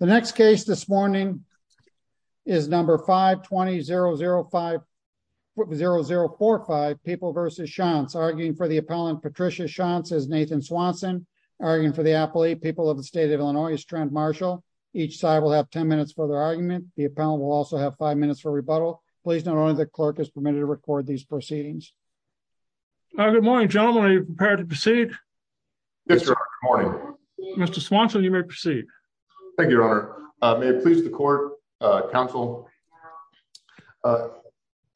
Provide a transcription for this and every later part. The next case this morning is number 520050045 people versus chance arguing for the appellant Patricia chance is Nathan Swanson, arguing for the appellate people of the state of Illinois is Trent Marshall. Each side will have 10 minutes for their argument. The appellant will also have five minutes for rebuttal. Please note only the clerk is permitted to record these proceedings. Good morning, gentlemen. Are you prepared to proceed? Mr. Swanson, you may proceed. Thank you, Your Honor. May it please the court, counsel.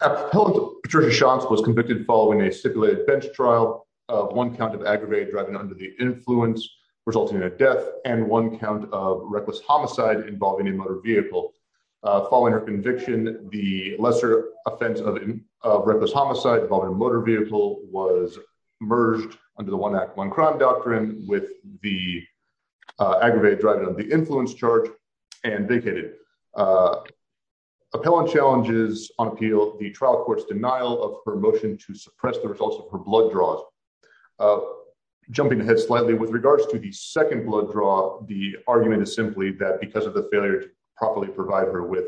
Patricia chance was convicted following a stipulated bench trial, one count of aggravated driving under the influence resulting in a death and one count of reckless homicide involving a motor vehicle. Following her conviction, the lesser offense of reckless homicide involving a motor vehicle was merged under the one act one crime doctrine with the aggravated driving of the influence charge and vacated appellant challenges on appeal, the trial court's denial of her motion to suppress the results of her blood draws. Jumping ahead slightly with regards to the second blood draw, the argument is simply that because of the failure to properly provide her with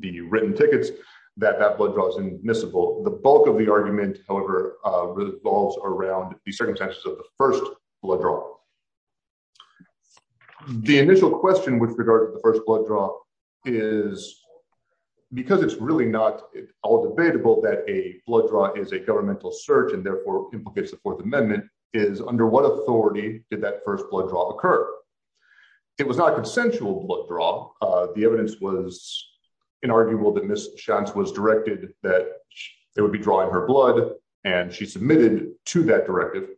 the written tickets, that that blood draws admissible. The bulk of the argument, however, revolves around the circumstances of the first blood draw. The initial question with regard to the first blood draw is, because it's really not all debatable that a blood draw is a governmental search and therefore implicates the Fourth Amendment is under what authority did that first blood drop occur? It was not consensual blood drop. The evidence was inarguable that Miss chance was directed that there would be drawing her blood and she submitted to that directive.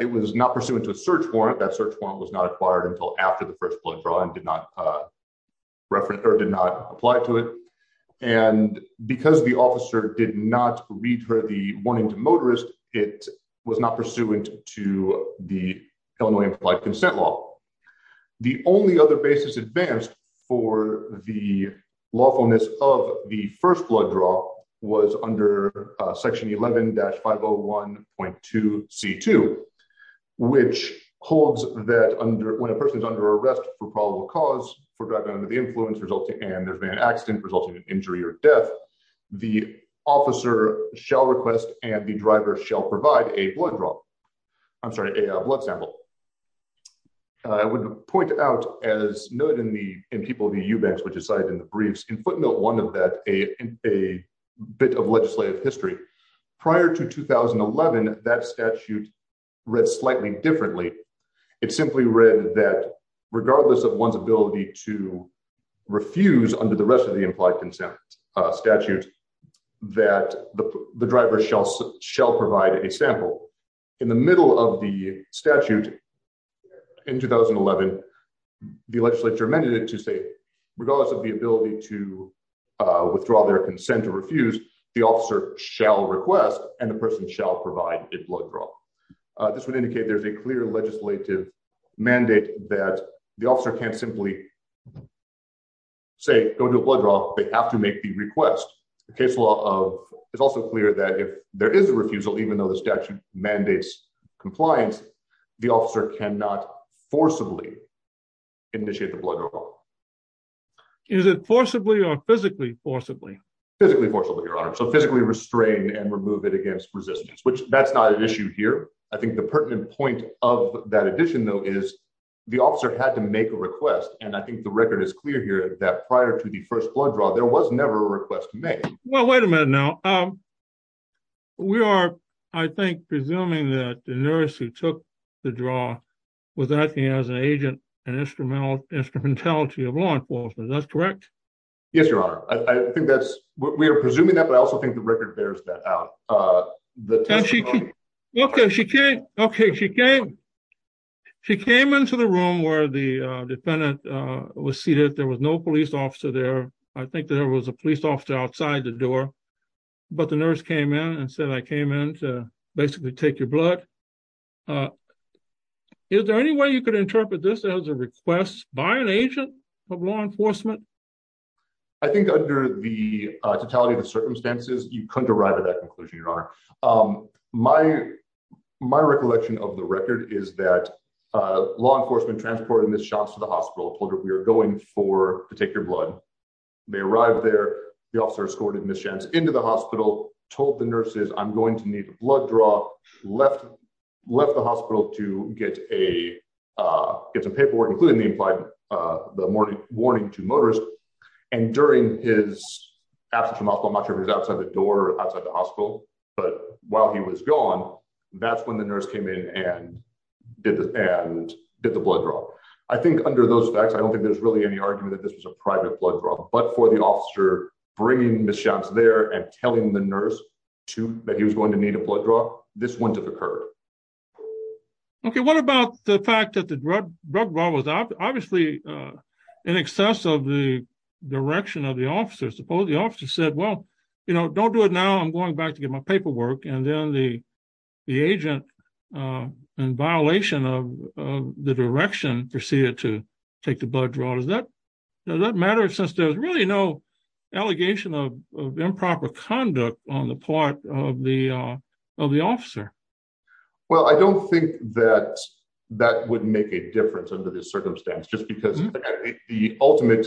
It was not pursuant to a search warrant that search warrant was not acquired until after the first blood draw and did not reference or did not apply to it. And because the officer did not read her the warning to motorist, it was not pursuant to the Illinois implied consent law. The only other basis advanced for the lawfulness of the first blood draw was under section 11 dash 501.2 c two, which holds that under when a person is under arrest for probable cause for driving under the influence resulting and there's been an accident resulting in injury or death, the officer shall request and the driver shall provide a blood draw. I'm sorry, a blood draw. I would point out as noted in the in people the eubanks, which is cited in the briefs in footnote one of that a bit of legislative history. Prior to 2011, that statute read slightly differently. It simply read that regardless of one's ability to refuse under the rest of the implied consent statute, that the driver shall shall provide a sample in the middle of the statute. In 2011, the legislature amended it to say, regardless of the ability to withdraw their consent to refuse, the officer shall request and the person shall provide a blood draw. This would indicate there's a clear legislative mandate that the officer can't simply say go to a blood draw, they have to make the request. The case law of is also clear that if there is a refusal, even though the statute mandates compliance, the officer cannot forcibly initiate the blood draw. Is it forcibly or physically forcibly, physically forcibly, Your Honor, so physically restrain and remove it against resistance, which that's not an issue here. I think the pertinent point of that addition, though, is the officer had to make a request. And I think the record is clear here that prior to the first blood draw, there was never a request to make. Well, wait a minute. Now. We are, I think, presuming that the nurse who took the draw was acting as an agent and instrumental instrumentality of law enforcement. That's correct. Yes, Your Honor. I think that's what we are presuming that. But I also think the record bears that out. The tension. Okay, she came. Okay, she came. She came into the room where the defendant was seated. There was no police officer there. I think there was a police officer outside the door. But the nurse came in and said, I came in to basically take your blood. Is there any way you could interpret this as a request by an agent of law enforcement? I think under the totality of the circumstances, you couldn't arrive at that conclusion, Your Honor. My, my recollection of the record is that law enforcement transported in this to the hospital, told her we are going for to take your blood. They arrived there, the officer escorted Ms. Jantz into the hospital, told the nurses, I'm going to need a blood draw, left left the hospital to get a, get some paperwork, including the implied, the morning warning to motorist. And during his absence from the hospital, I'm not sure if he was outside the door or outside the hospital. But while he was gone, that's when the under those facts, I don't think there's really any argument that this was a private blood draw. But for the officer, bringing Ms. Jantz there and telling the nurse to that he was going to need a blood draw, this wouldn't have occurred. Okay, what about the fact that the drug drug was obviously in excess of the direction of the officer, suppose the officer said, Well, you know, don't do it. Now I'm going back to get my paperwork. And then the, the agent, in violation of the direction proceeded to take the blood draw. Does that does that matter? Since there's really no allegation of improper conduct on the part of the, of the officer? Well, I don't think that that would make a difference under this circumstance, just because the ultimate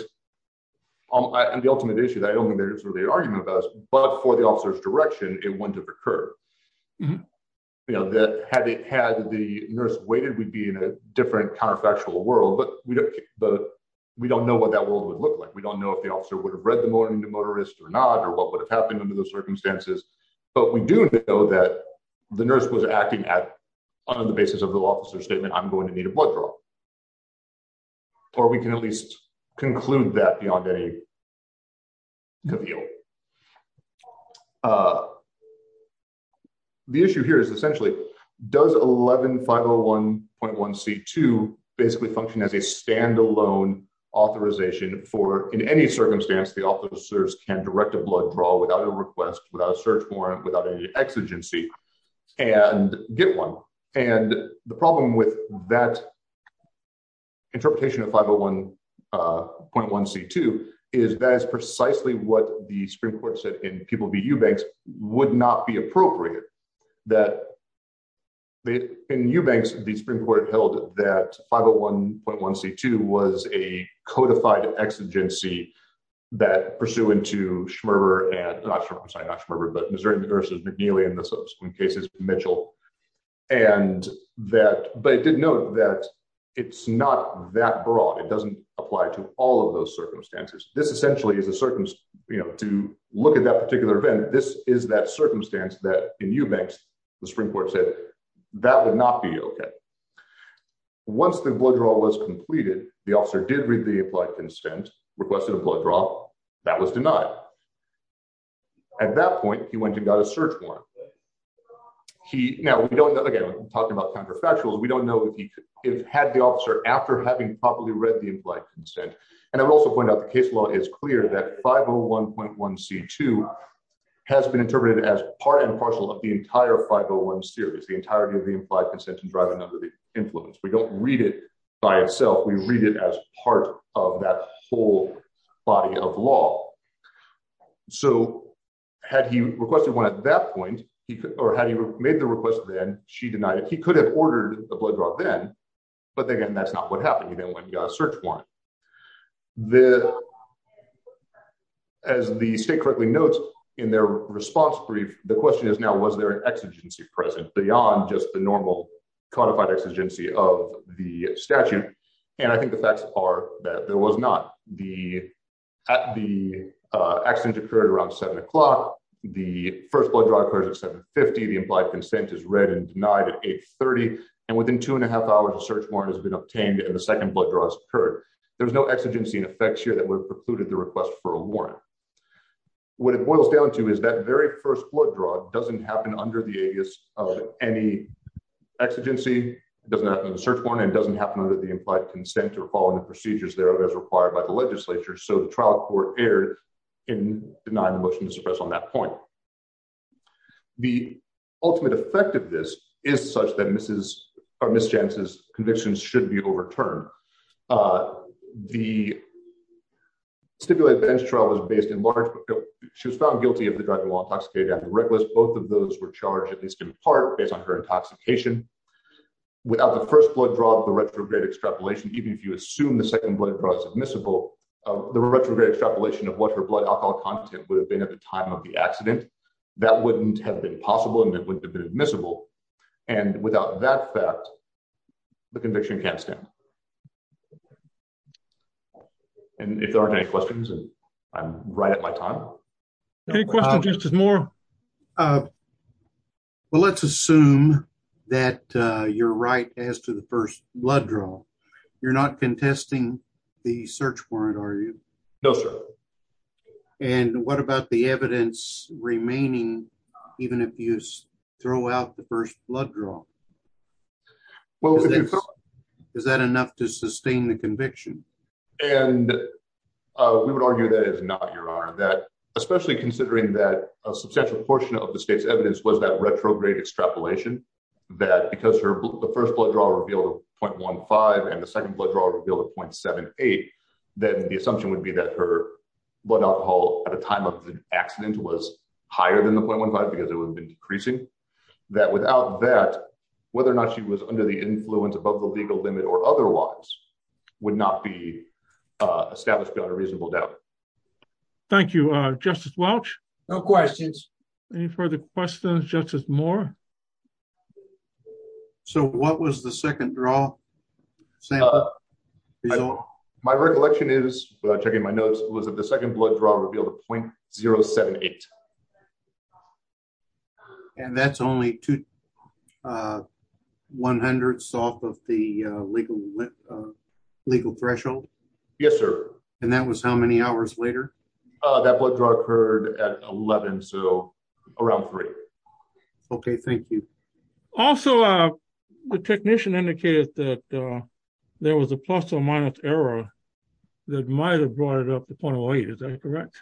and the ultimate issue that I don't think there's really an argument about, but for the officer's direction, it wouldn't have occurred. You be in a different counterfactual world, but we don't, but we don't know what that world would look like. We don't know if the officer would have read the morning to motorist or not, or what would have happened under those circumstances. But we do know that the nurse was acting at on the basis of the law officer statement, I'm going to need a blood draw. Or we can at least conclude that beyond a deal. The issue here is essentially does 11501.1 C2 basically function as a standalone authorization for in any circumstance, the officers can direct a blood draw without a request without a search warrant without any exigency and get one. And the problem with that interpretation of 501.1 C2 is that is precisely what the Supreme Court said in people be you banks would not be appropriate, that they in new banks, the Supreme Court held that 501.1 C2 was a codified exigency that pursuant to Schmerber and not Schmerber, but Missouri versus McNeely in this case is Mitchell. And that but it did note that it's not that broad, it doesn't apply to all of those circumstances. This essentially is a certain, you know, to look at that particular event, this is that circumstance that in eubanks, the Supreme Court said, that would not be okay. Once the blood draw was completed, the officer did read the applied consent requested a blood draw that was denied. At that point, he went and got a search warrant. He now we don't know, again, talking about counterfactuals, we don't know if he had the officer after having properly read the implied consent. And I will also point out the case law is clear that 501.1 C2 has been interpreted as part and partial of the entire 501 series, the entirety of the implied consent and driving under the influence, we don't read it by itself, we read it as part of that whole body of law. So had he requested one at that point, or had he made the request, then she denied it, he could have ordered a blood draw then. But then again, that's not what happened. He then went and got a search warrant. As the state correctly notes, in their response brief, the question is now was there an exigency present beyond just the normal codified exigency of the statute. And I think the facts are that there was not the at the accident occurred around seven o'clock, the first blood draw occurs at 750, the implied consent is read and denied at 830. And within two and a half hours, the search warrant has been obtained and the second blood draws occurred. There was no exigency in effect here that would have precluded the request for a warrant. What it boils down to is that very first blood draw doesn't happen under the aegis of any exigency, doesn't happen in the search warrant and doesn't happen under the implied consent or following the procedures thereof as required by the legislature. So the trial court erred in denying the motion to suppress on that point. The ultimate effect of this is such that misses or mischances convictions should be overturned. The stipulated bench trial was based in large, she was found guilty of the driving while intoxicated and reckless. Both of those were charged at least in part based on her intoxication. Without the first blood draw, the retrograde extrapolation, even if you assume the second blood draw is admissible, the retrograde extrapolation of what her blood alcohol content would have been at the time of the accident, that wouldn't have been possible and it wouldn't have been admissible and without that fact, the conviction can't stand. And if there aren't any questions and I'm right at my time. Any questions, Justice Moore? Well, let's assume that you're right as to the first blood draw. You're not contesting the search warrant, are you? No, sir. And what about the evidence remaining, even if you throw out the first blood draw? Is that enough to sustain the conviction? And we would argue that it's not, Your Honor, that especially considering that a substantial portion of the state's evidence was that retrograde extrapolation that because the first blood draw revealed a .15 and the second blood draw revealed a .78, then the assumption would be that her at a time of the accident was higher than the .15 because it would have been decreasing. That without that, whether or not she was under the influence above the legal limit or otherwise, would not be established without a reasonable doubt. Thank you, Justice Welch. No questions. Any further questions, Justice Moore? So what was the second draw? My recollection is without checking my notes was that the second blood draw revealed a .078. And that's only two 100ths off of the legal threshold? Yes, sir. And that was how many hours later? That blood draw occurred at 11, so around three. Okay, thank you. Also, the technician indicated that there was a plus or minus error that might have brought up the .08. Is that correct?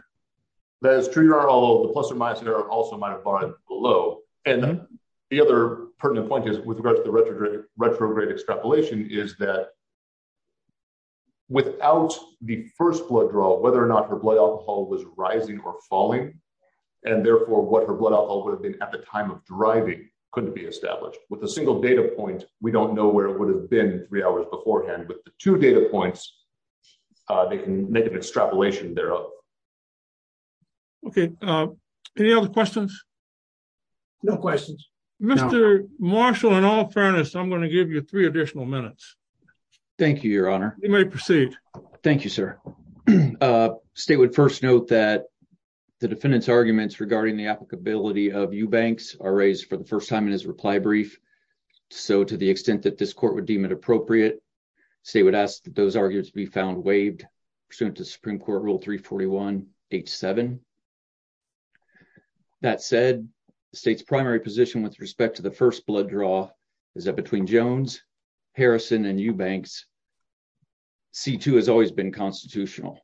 That is true. The plus or minus error also might have brought it below. And the other pertinent point is, with regard to the retrograde extrapolation, is that without the first blood draw, whether or not her blood alcohol was rising or falling, and therefore what her blood alcohol would have been at the time of driving couldn't be established. With a single data point, we don't know where it would have been three hours beforehand. With the two data points, they can make an extrapolation there. Okay, any other questions? No questions. Mr. Marshall, in all fairness, I'm going to give you three additional minutes. Thank you, Your Honor. You may proceed. Thank you, sir. State would first note that the defendant's arguments regarding the applicability of Eubanks are raised for the first time in his reply brief. So to the extent that this court would appropriate, state would ask that those arguments be found waived pursuant to Supreme Court Rule 341 H7. That said, the state's primary position with respect to the first blood draw is that between Jones, Harrison, and Eubanks, C-2 has always been constitutional,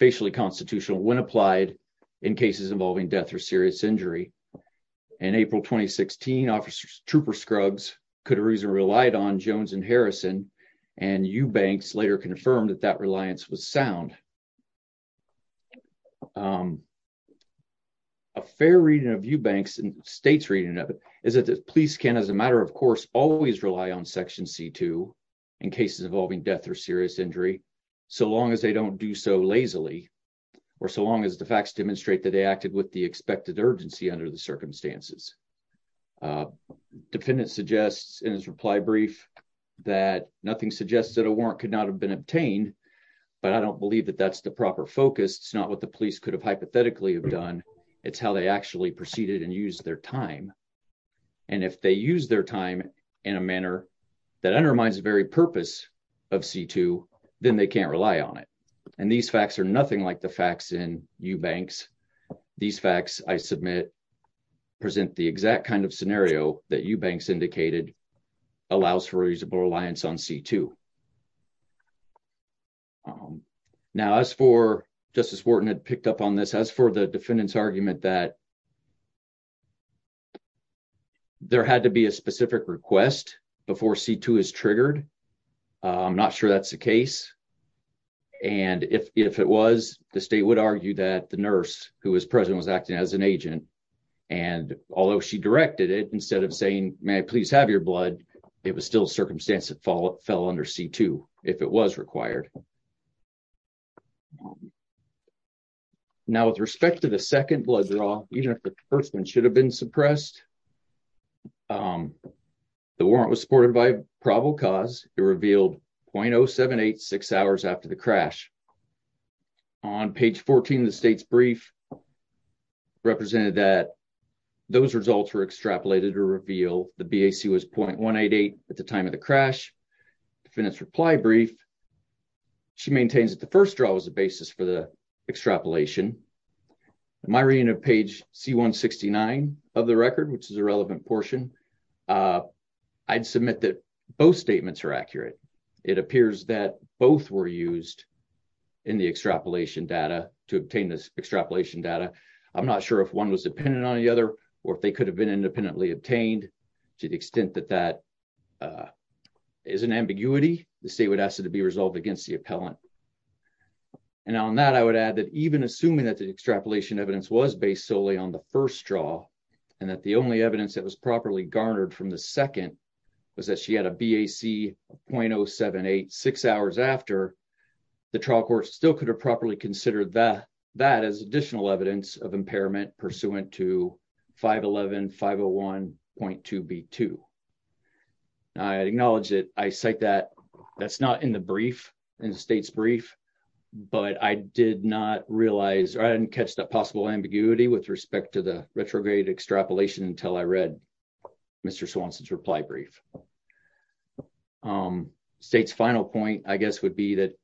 facially constitutional when applied in cases involving death or serious injury. In April 2016, Officer Trooper Scruggs could reason relied on Harrison, and Eubanks later confirmed that that reliance was sound. A fair reading of Eubanks and state's reading of it is that the police can, as a matter of course, always rely on Section C-2 in cases involving death or serious injury so long as they don't do so lazily or so long as the facts demonstrate that they acted with the expected urgency under the circumstances. Defendant suggests in his reply brief that nothing suggests that a warrant could not have been obtained, but I don't believe that that's the proper focus. It's not what the police could have hypothetically have done. It's how they actually proceeded and used their time, and if they use their time in a manner that undermines the very purpose of C-2, then they can't rely on it, and these facts are nothing like the facts in Eubanks. These facts, I submit, present the exact kind of scenario that Eubanks indicated allows for a reasonable reliance on C-2. Now, as for, Justice Wharton had picked up on this, as for the defendant's argument that there had to be a specific request before C-2 is triggered. I'm not sure that's the case, and if it was, the state would argue that the nurse who was present was acting as an agent, and although she directed it, instead of saying, may I please have your blood, it was still a circumstance that fell under C-2, if it was required. Now, with respect to the second blood draw, the first one should have been suppressed. The warrant was supported by probable cause. It revealed .0786 hours after the represented that those results were extrapolated to reveal the BAC was .188 at the time of the crash. The defendant's reply brief, she maintains that the first draw was the basis for the extrapolation. In my reading of page C-169 of the record, which is a relevant portion, I'd submit that both statements are accurate. It appears that both were used in the extrapolation data to obtain this extrapolation data. I'm not sure if one was dependent on the other, or if they could have been independently obtained, to the extent that that is an ambiguity, the state would ask it to be resolved against the appellant. And on that, I would add that even assuming that the extrapolation evidence was based solely on the first draw, and that the only evidence that was properly garnered from the second was that she had a BAC of .0786 hours after, the trial court still could have properly considered that as additional evidence of impairment pursuant to 511.501.2B2. I acknowledge that I cite that, that's not in the brief, in the state's brief, but I did not realize, or I didn't catch the possible ambiguity with respect to the retrograde extrapolation until I read Mr. Swanson's reply brief. State's final point, I guess, would be that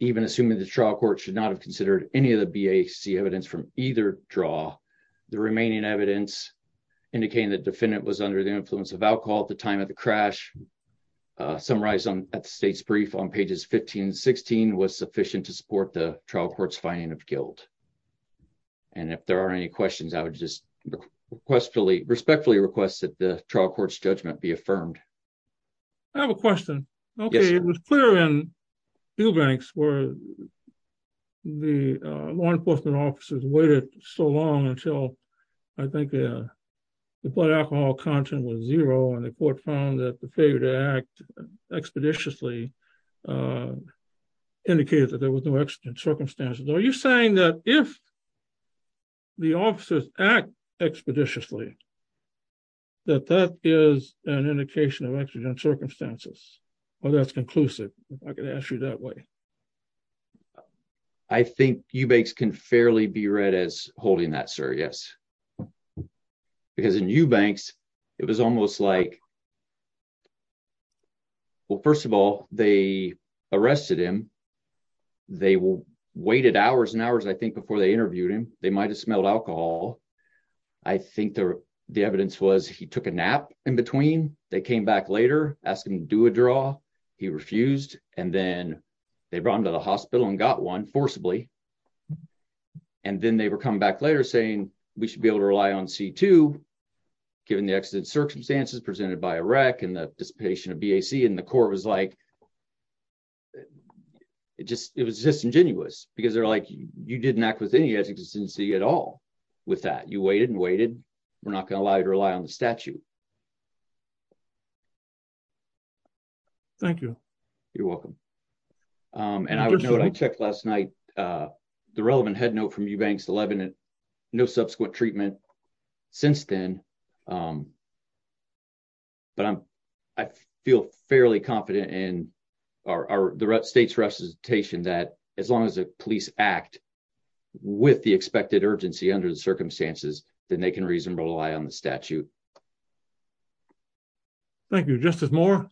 even assuming the trial court should not have considered any of the BAC evidence from either draw, the remaining evidence indicating the defendant was under the influence of alcohol at the time of the crash, summarized at the state's brief on pages 15 and 16, was sufficient to support the trial court's finding of guilt. And if there are any questions, I would just respectfully request that the trial court's judgment be affirmed. I have a question. Okay, it was clear in Eubanks where the law enforcement officers waited so long until I think the blood alcohol content was zero and the court found that the failure to act expeditiously indicated that there was no exigent circumstances. Are you saying that if the officers act expeditiously, that that is an indication of exigent circumstances? Or that's that way? I think Eubanks can fairly be read as holding that, sir. Yes. Because in Eubanks, it was almost like well, first of all, they arrested him. They waited hours and hours, I think, before they interviewed him. They might have smelled alcohol. I think the evidence was he took a nap in between. They came back later, asked him to do a draw. He refused. And then they brought him to the hospital and got one forcibly. And then they were coming back later saying we should be able to rely on C2 given the exigent circumstances presented by a wreck and the dissipation of BAC. And the court was like, it was disingenuous because they're like, you didn't act with any exigency at all with that. You waited and waited. We're not going to allow you to rely on the statute. Thank you. You're welcome. And I would note, I checked last night, the relevant head note from Eubanks 11, no subsequent treatment since then. But I feel fairly confident in our the state's recitation that as long as the police act with the expected urgency under the circumstances, then they can reasonably rely on the statute. Thank you, Justice Moore.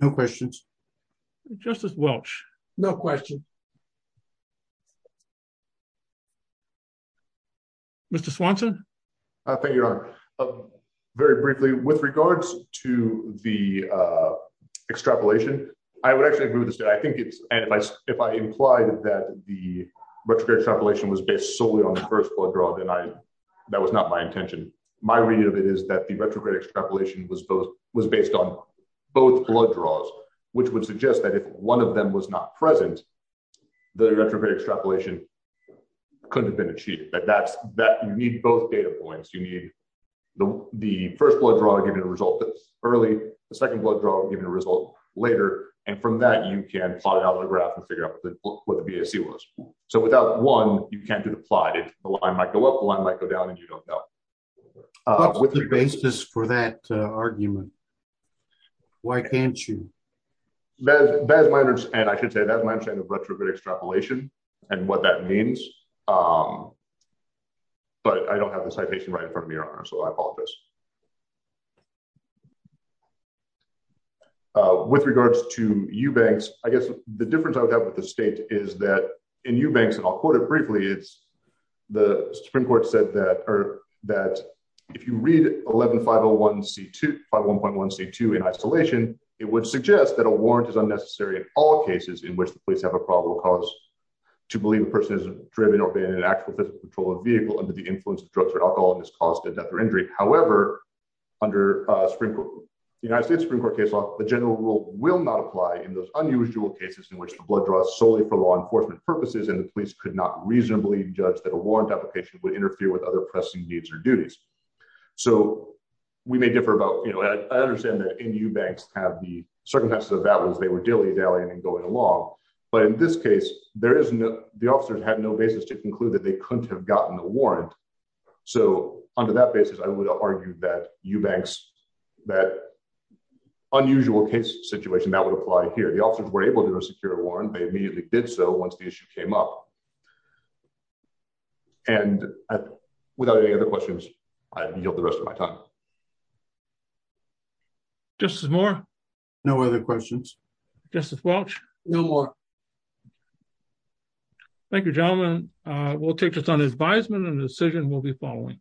No questions. Justice Welch. No question. Mr. Swanson. I think you're very briefly with regards to the extrapolation. I would actually move this. I think it's if I, if I implied that the retrograde extrapolation was based solely on the first blood draw, then I, that was not my intention. My read of it is that the retrograde extrapolation was both, was based on both blood draws, which would suggest that if one of them was not present, the retrograde extrapolation could have been achieved, but that's that you need both data points. You need the first blood draw given a result early, the second blood draw given a result later. And from that, you can plot it out of the graph and figure out what the BAC was. So without one, you can't do it. The line might go up, the line might go down and you don't know. What's the basis for that argument? Why can't you? That is my understanding. I should say that's my understanding of retrograde extrapolation and what that means. But I don't have the citation right in front of me, Your Honor, so I apologize. With regards to Eubanks, I guess the difference I would have with the state is that in Eubanks, and I'll quote it briefly, it's the Supreme Court said that, or that if you read 11501C2, 5.1.1C2 in isolation, it would suggest that a warrant is unnecessary in all cases in which the police have a probable cause to believe a person is driven or been in an actual physical patrol vehicle under the influence of drugs or alcohol and has caused a death or injury. However, under the United States Supreme Court case law, the general rule will not apply in those unusual cases in which the blood draws solely for law enforcement purposes and the police could not reasonably judge that a warrant application would interfere with other pressing needs or duties. So we may differ about, you know, I understand that in Eubanks have the circumstances of that was they were dilly-dallying and going along. But in this case, there is no, the officers had no basis to conclude that they couldn't have gotten a warrant. So under that basis, I would argue that Eubanks, that unusual case situation that would apply here, the officers were able to once the issue came up. And without any other questions, I yield the rest of my time. Justice Moore. No other questions. Justice Welch. No more. Thank you, gentlemen. We'll take this on advisement and the decision will be following.